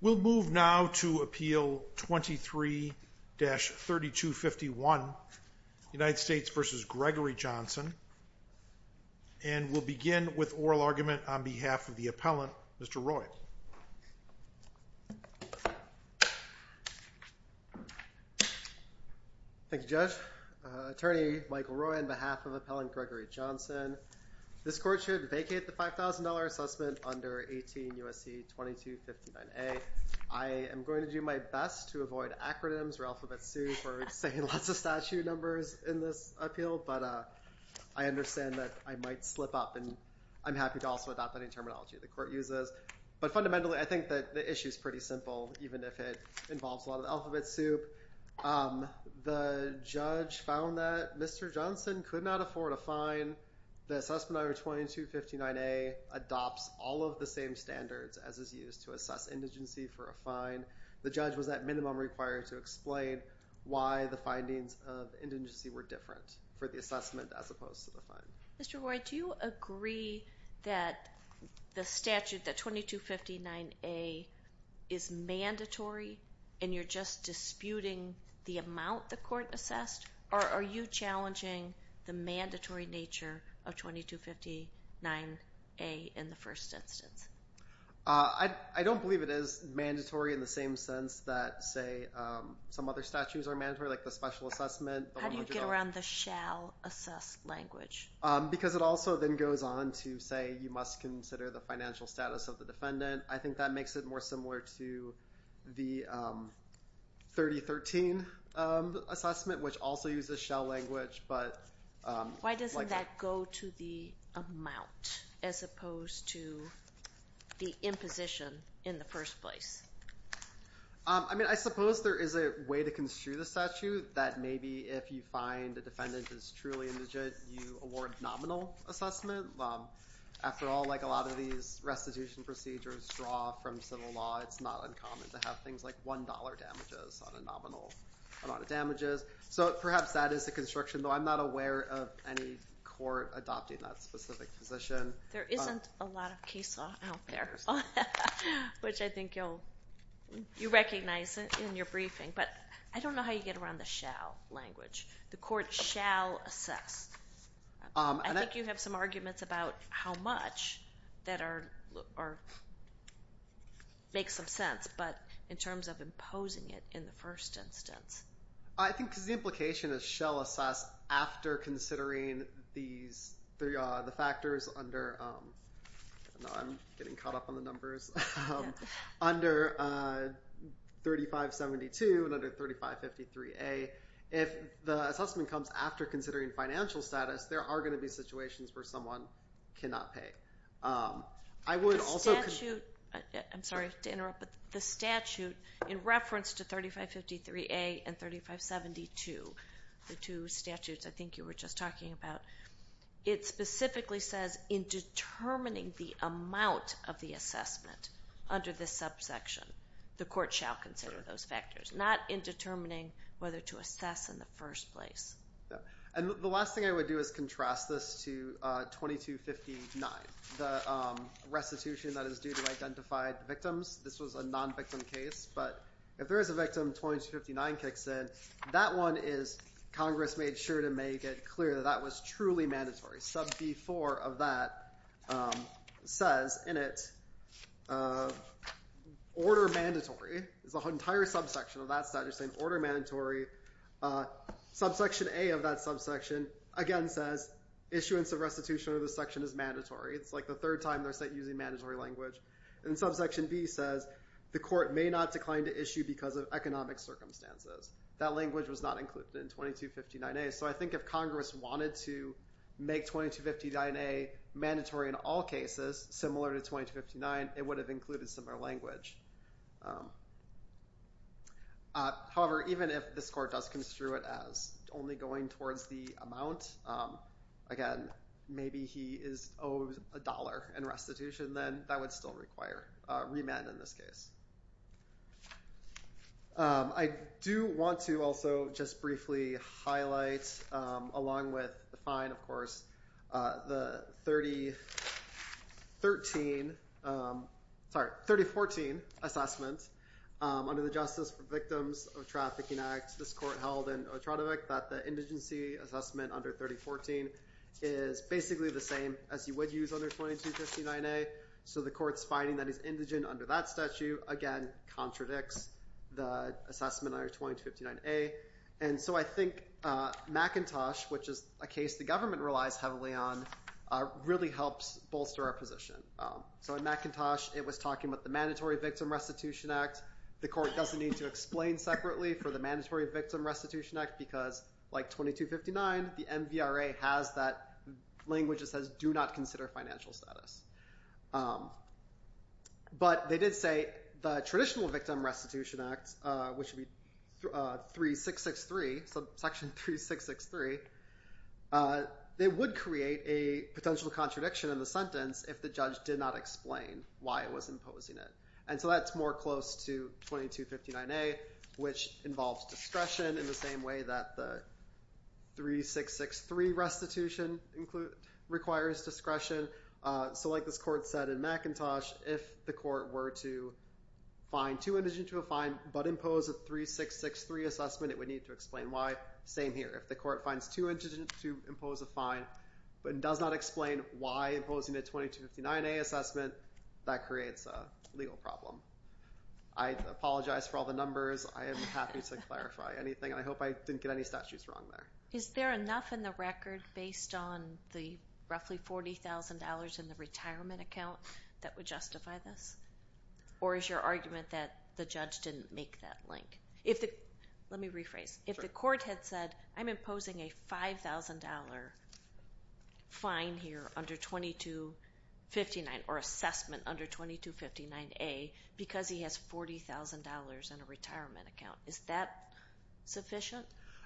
We'll move now to Appeal 23-3251, United States v. Gregory Johnson, and we'll begin with oral Thank you, Judge. Attorney Michael Roy, on behalf of Appellant Gregory Johnson, this Court should vacate the $5,000 assessment under 18 U.S.C. 2259A. I am going to do my best to avoid acronyms or alphabet soup or saying lots of statute numbers in this appeal, but I understand that I might slip up, and I'm happy to also adopt any terminology the Court uses. But fundamentally, I think that the issue is pretty simple, even if it involves a lot of alphabet soup. The judge found that Mr. Johnson could not afford a fine. The assessment under 2259A adopts all of the same standards as is used to assess indigency for a fine. The judge was at minimum required to explain why the findings of indigency were different for the assessment as opposed to the fine. Mr. Roy, do you agree that the statute, that 2259A, is mandatory, and you're just disputing the amount the Court assessed? Or are you challenging the mandatory nature of 2259A in the first instance? I don't believe it is mandatory in the same sense that, say, some other statutes are mandatory, like the special assessment. How do you get around the shall-assessed language? Because it also then goes on to say you must consider the financial status of the defendant. I think that makes it more similar to the 3013 assessment, which also uses shall language. Why doesn't that go to the amount as opposed to the imposition in the first place? I suppose there is a way to construe the statute that maybe if you find a defendant is truly indigent, you award nominal assessment. After all, like a lot of these restitution procedures draw from civil law, it's not uncommon to have things like $1 damages on a nominal amount of damages. So perhaps that is the construction, though I'm not aware of any court adopting that specific position. There isn't a lot of case law out there, which I think you'll recognize in your briefing. But I don't know how you get around the shall language. The Court shall assess. I think you have some arguments about how much that makes some sense, but in terms of imposing it in the first instance. I think the implication is shall assess after considering the factors under 3572 and under 3553A. If the assessment comes after considering financial status, there are going to be situations where someone cannot pay. The statute in reference to 3553A and 3572, the two statutes I think you were just talking about, it specifically says in determining the amount of the assessment under this subsection, the Court shall consider those factors, not in determining whether to assess in the first place. The last thing I would do is contrast this to 2259, the restitution that is due to identified victims. This was a non-victim case, but if there is a victim, 2259 kicks in. That one is Congress made sure to make it clear that that was truly mandatory. Sub B4 of that says in it, order mandatory. There's an entire subsection of that statute saying order mandatory. Subsection A of that subsection, again, says issuance of restitution under this section is mandatory. It's like the third time they're using mandatory language. And subsection B says the Court may not decline to issue because of economic circumstances. That language was not included in 2259A. So I think if Congress wanted to make 2259A mandatory in all cases similar to 2259, it would have included similar language. However, even if this Court does construe it as only going towards the amount, again, maybe he is owed a dollar in restitution, then that would still require remand in this case. I do want to also just briefly highlight, along with the fine, of course, the 3013, sorry, 3014 assessment under the Justice for Victims of Trafficking Act. This Court held in Otradovich that the indigency assessment under 3014 is basically the same as you would use under 2259A. So the Court's finding that it's indigent under that statute, again, contradicts the assessment under 2259A. And so I think McIntosh, which is a case the government relies heavily on, really helps bolster our position. So in McIntosh, it was talking about the Mandatory Victim Restitution Act. The Court doesn't need to explain separately for the Mandatory Victim Restitution Act because, like 2259, the MVRA has that language that says do not consider financial status. But they did say the traditional Victim Restitution Act, which would be section 3663, it would create a potential contradiction in the sentence if the judge did not explain why it was imposing it. And so that's more close to 2259A, which involves discretion in the same way that the 3663 restitution requires discretion. So like this Court said in McIntosh, if the Court were to find too indigent to a fine but impose a 3663 assessment, it would need to explain why. Same here. If the Court finds too indigent to impose a fine but does not explain why imposing a 2259A assessment, that creates a legal problem. I apologize for all the numbers. I am happy to clarify anything. I hope I didn't get any statutes wrong there. Is there enough in the record based on the roughly $40,000 in the retirement account that would justify this? Or is your argument that the judge didn't make that link? Let me rephrase. If the Court had said, I'm imposing a $5,000 fine here under 2259 or assessment under 2259A because he has $40,000 in a retirement account, is that sufficient?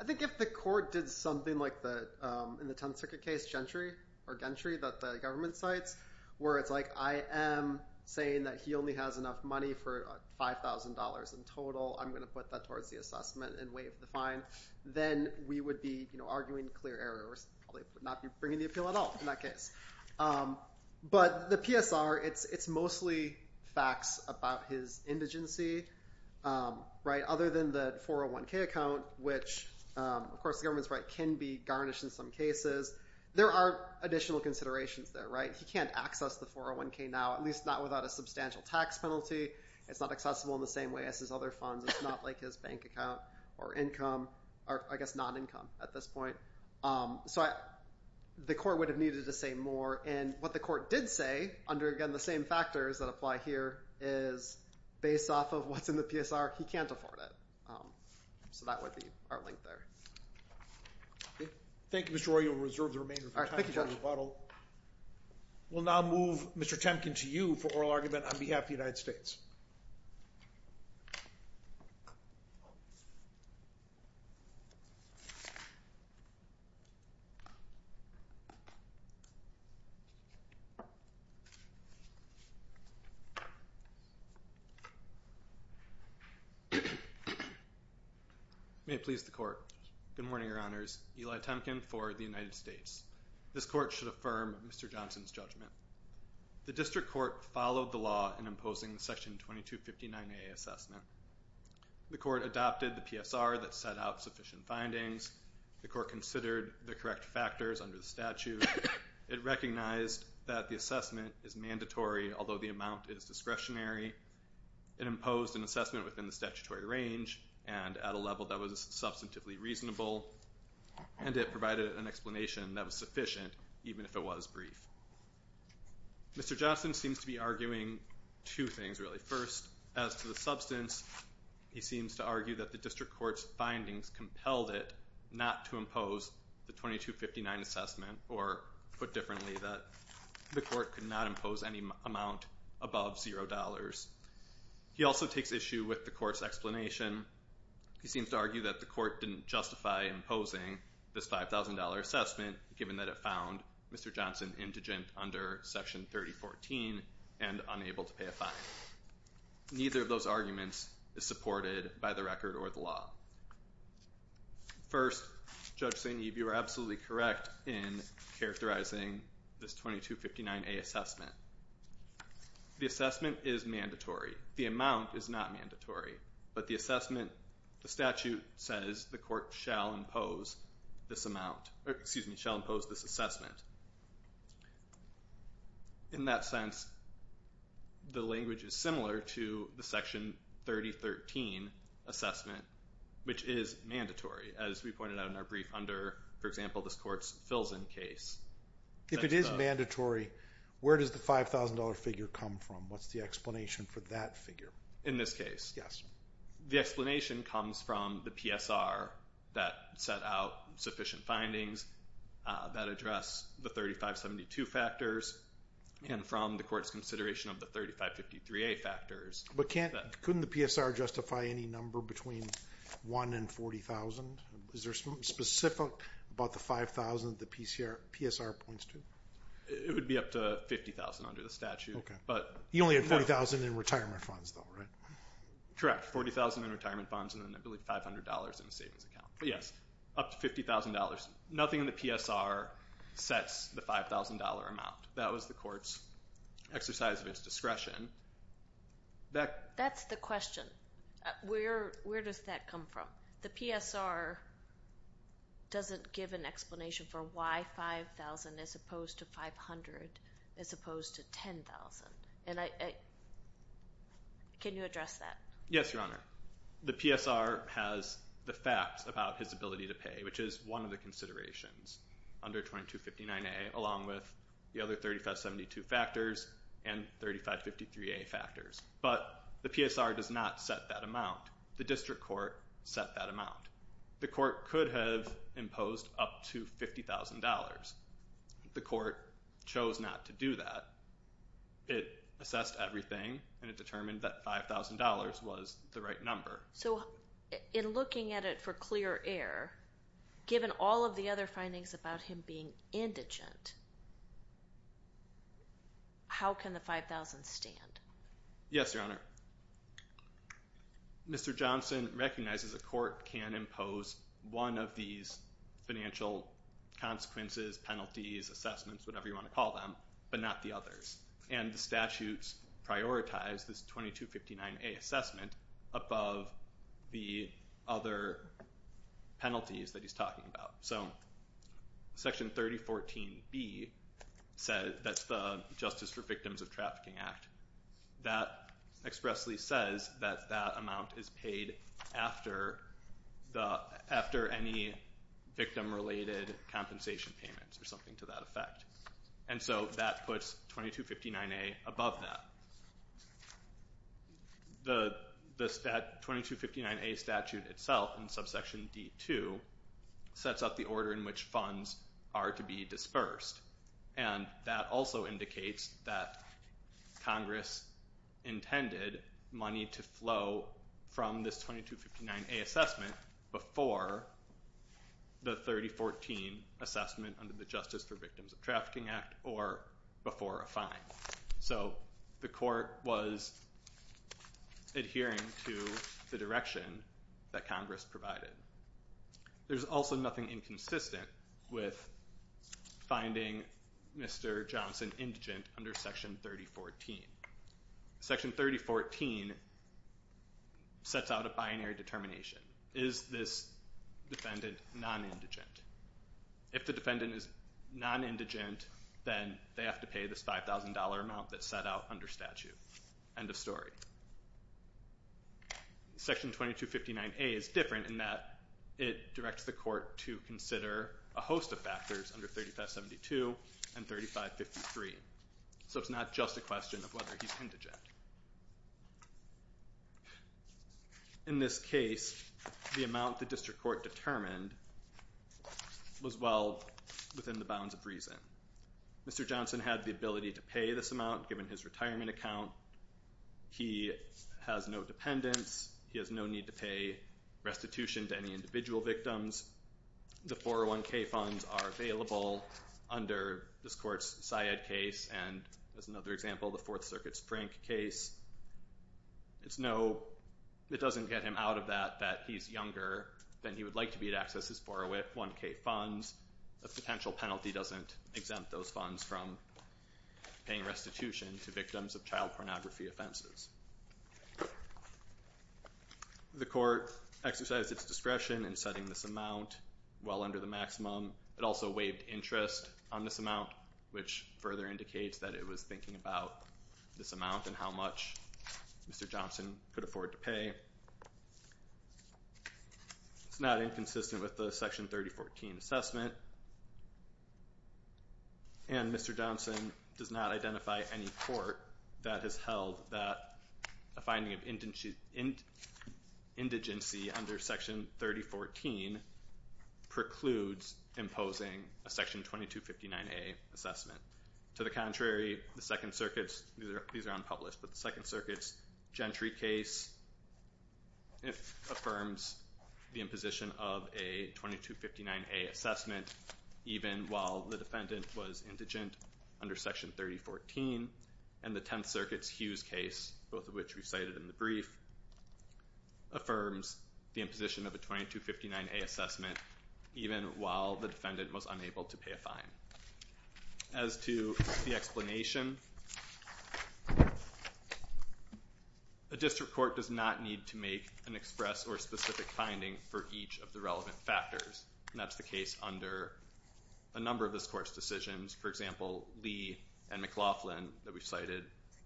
I think if the Court did something like in the Tenth Circuit case, Gentry or Gentry that the government cites, where it's like I am saying that he only has enough money for $5,000 in total. I'm going to put that towards the assessment and waive the fine. Then we would be arguing clear errors, probably not be bringing the appeal at all in that case. But the PSR, it's mostly facts about his indigency. Other than the 401K account, which, of course, the government's right, can be garnished in some cases. There are additional considerations there. He can't access the 401K now, at least not without a substantial tax penalty. It's not accessible in the same way as his other funds. It's not like his bank account or income, or I guess non-income at this point. So the Court would have needed to say more. And what the Court did say under, again, the same factors that apply here is based off of what's in the PSR, he can't afford it. So that would be our link there. Thank you, Mr. Roy. Thank you, Judge. We'll now move Mr. Temkin to you for oral argument on behalf of the United States. May it please the Court. Good morning, Your Honors. Eli Temkin for the United States. This Court should affirm Mr. Johnson's judgment. The District Court followed the law in imposing the Section 2259A assessment. The Court adopted the PSR that set out sufficient findings. The Court considered the correct factors under the statute. It recognized that the assessment is mandatory, although the amount is discretionary. It imposed an assessment within the statutory range and at a level that was substantively reasonable. And it provided an explanation that was sufficient, even if it was brief. Mr. Johnson seems to be arguing two things, really. First, as to the substance, he seems to argue that the District Court's findings compelled it not to impose the 2259 assessment, or, put differently, that the Court could not impose any amount above $0. He also takes issue with the Court's explanation. He seems to argue that the Court didn't justify imposing this $5,000 assessment, given that it found Mr. Johnson indigent under Section 3014 and unable to pay a fine. Neither of those arguments is supported by the record or the law. First, Judge St. Eve, you are absolutely correct in characterizing this 2259A assessment. The assessment is mandatory. The amount is not mandatory. But the assessment, the statute says the Court shall impose this amount, or, excuse me, shall impose this assessment. In that sense, the language is similar to the Section 3013 assessment, which is mandatory, as we pointed out in our brief under, for example, this Court's Filzen case. If it is mandatory, where does the $5,000 figure come from? What's the explanation for that figure? In this case? Yes. The explanation comes from the PSR that set out sufficient findings that address the 3572 factors and from the Court's consideration of the 3553A factors. But couldn't the PSR justify any number between one and $40,000? Is there something specific about the $5,000 the PSR points to? It would be up to $50,000 under the statute. He only had $40,000 in retirement funds, though, right? Correct, $40,000 in retirement funds and then, I believe, $500 in the savings account. Yes, up to $50,000. Nothing in the PSR sets the $5,000 amount. That was the Court's exercise of its discretion. That's the question. Where does that come from? The PSR doesn't give an explanation for why $5,000 as opposed to $500 as opposed to $10,000. Can you address that? Yes, Your Honor. The PSR has the facts about his ability to pay, which is one of the considerations under 2259A along with the other 3572 factors and 3553A factors. But the PSR does not set that amount. The district court set that amount. The court could have imposed up to $50,000. The court chose not to do that. It assessed everything, and it determined that $5,000 was the right number. So, in looking at it for clear air, given all of the other findings about him being indigent, how can the $5,000 stand? Yes, Your Honor. Mr. Johnson recognizes a court can impose one of these financial consequences, penalties, assessments, whatever you want to call them, but not the others. And the statutes prioritize this 2259A assessment above the other penalties that he's talking about. So Section 3014B says that's the Justice for Victims of Trafficking Act. That expressly says that that amount is paid after any victim-related compensation payments or something to that effect, and so that puts 2259A above that. The 2259A statute itself in subsection D-2 sets up the order in which funds are to be dispersed, and that also indicates that Congress intended money to flow from this 2259A assessment before the 3014 assessment under the Justice for Victims of Trafficking Act or before a fine. So the court was adhering to the direction that Congress provided. There's also nothing inconsistent with finding Mr. Johnson indigent under Section 3014. Section 3014 sets out a binary determination. Is this defendant non-indigent? If the defendant is non-indigent, then they have to pay this $5,000 amount that's set out under statute. End of story. Section 2259A is different in that it directs the court to consider a host of factors under 3572 and 3553. So it's not just a question of whether he's indigent. In this case, the amount the district court determined was well within the bounds of reason. Mr. Johnson had the ability to pay this amount given his retirement account. He has no dependents. He has no need to pay restitution to any individual victims. The 401k funds are available under this court's Syed case and, as another example, the Fourth Circuit's Prink case. It doesn't get him out of that that he's younger than he would like to be to access his 401k funds. A potential penalty doesn't exempt those funds from paying restitution to victims of child pornography offenses. The court exercised its discretion in setting this amount well under the maximum. It also waived interest on this amount, which further indicates that it was thinking about this amount and how much Mr. Johnson could afford to pay. It's not inconsistent with the Section 3014 assessment. And Mr. Johnson does not identify any court that has held that a finding of indigency under Section 3014 precludes imposing a Section 2259A assessment. To the contrary, the Second Circuit's Gentry case affirms the imposition of a 2259A assessment even while the defendant was indigent under Section 3014. And the Tenth Circuit's Hughes case, both of which we cited in the brief, affirms the imposition of a 2259A assessment even while the defendant was unable to pay a fine. As to the explanation, a district court does not need to make an express or specific finding for each of the relevant factors. And that's the case under a number of this Court's decisions, for example, Lee and McLaughlin that we've cited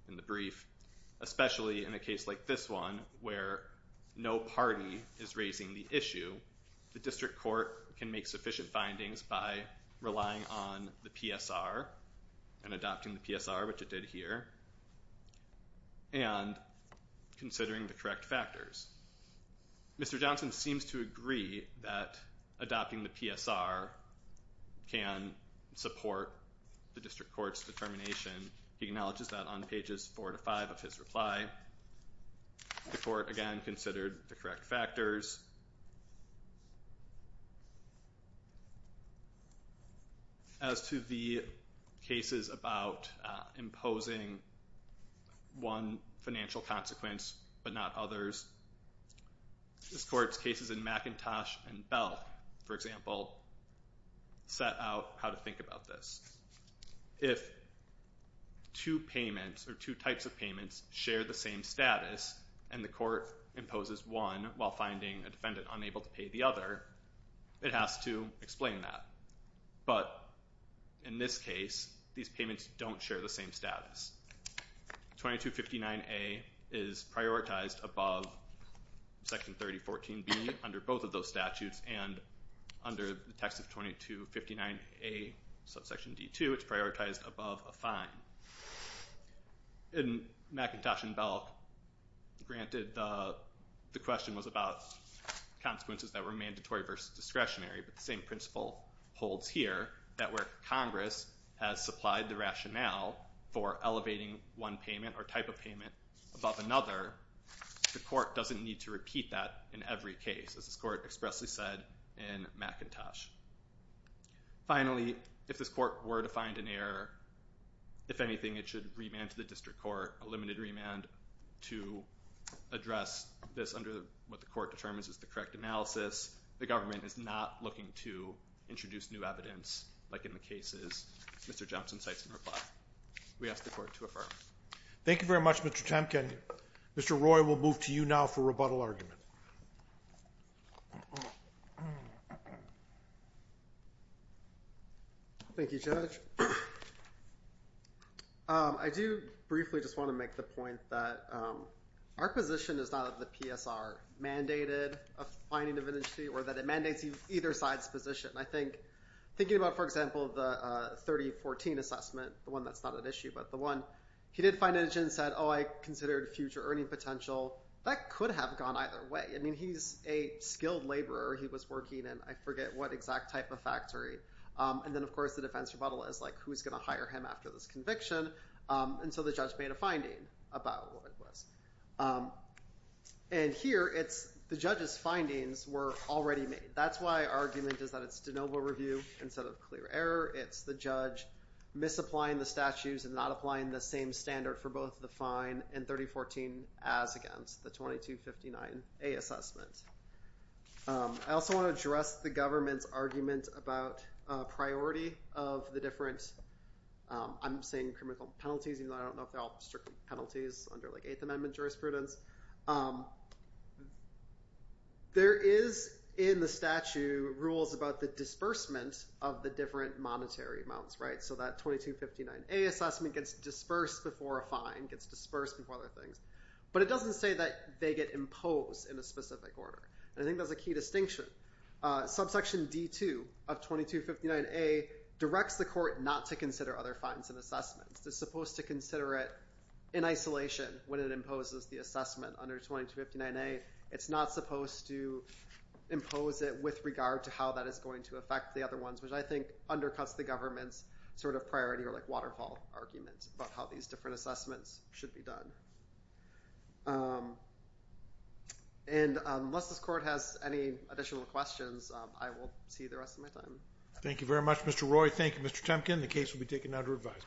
in the brief. Especially in a case like this one where no party is raising the issue, the district court can make sufficient findings by relying on the PSR and adopting the PSR, which it did here, and considering the correct factors. Mr. Johnson seems to agree that adopting the PSR can support the district court's determination. He acknowledges that on pages 4 to 5 of his reply. The court, again, considered the correct factors. As to the cases about imposing one financial consequence but not others, this Court's cases in McIntosh and Bell, for example, set out how to think about this. If two payments or two types of payments share the same status and the court imposes one while finding a defendant unable to pay the other, it has to explain that. But in this case, these payments don't share the same status. 2259A is prioritized above Section 3014B under both of those statutes, and under the text of 2259A, subsection D2, it's prioritized above a fine. In McIntosh and Bell, granted the question was about consequences that were mandatory versus discretionary, but the same principle holds here, that where Congress has supplied the rationale for elevating one payment or type of payment above another, the court doesn't need to repeat that in every case, as this court expressly said in McIntosh. Finally, if this court were to find an error, if anything, it should remand to the district court a limited remand to address this under what the court determines is the correct analysis. The government is not looking to introduce new evidence, like in the cases Mr. Jempson cites in reply. We ask the court to affirm. Thank you very much, Mr. Temkin. Mr. Roy, we'll move to you now for rebuttal argument. Thank you, Judge. I do briefly just want to make the point that our position is not that the PSR mandated a fining of indigent, or that it mandates either side's position. I think thinking about, for example, the 3014 assessment, the one that's not at issue, but the one he did fine indigent and said, oh, I considered future earning potential. That could have gone either way. I mean, he's a skilled laborer. He was working in, I forget what exact type of factory. And then, of course, the defense rebuttal is like, who's going to hire him after this conviction? And so the judge made a finding about what it was. And here, the judge's findings were already made. That's why our argument is that it's de novo review instead of clear error. It's the judge misapplying the statutes and not applying the same standard for both the fine and 3014 as against the 2259A assessment. I also want to address the government's argument about priority of the different, I'm saying criminal penalties, even though I don't know if they're all strictly penalties under like Eighth Amendment jurisprudence. There is in the statute rules about the disbursement of the different monetary amounts, right? So that 2259A assessment gets dispersed before a fine, gets dispersed before other things. But it doesn't say that they get imposed in a specific order. I think that's a key distinction. Subsection D2 of 2259A directs the court not to consider other fines and assessments. It's supposed to consider it in isolation when it imposes the assessment under 2259A. It's not supposed to impose it with regard to how that is going to affect the other ones, which I think undercuts the government's sort of priority or like waterfall argument about how these different assessments should be done. And unless this court has any additional questions, I will see you the rest of my time. Thank you very much, Mr. Roy. Thank you, Mr. Temkin. The case will be taken under advisement.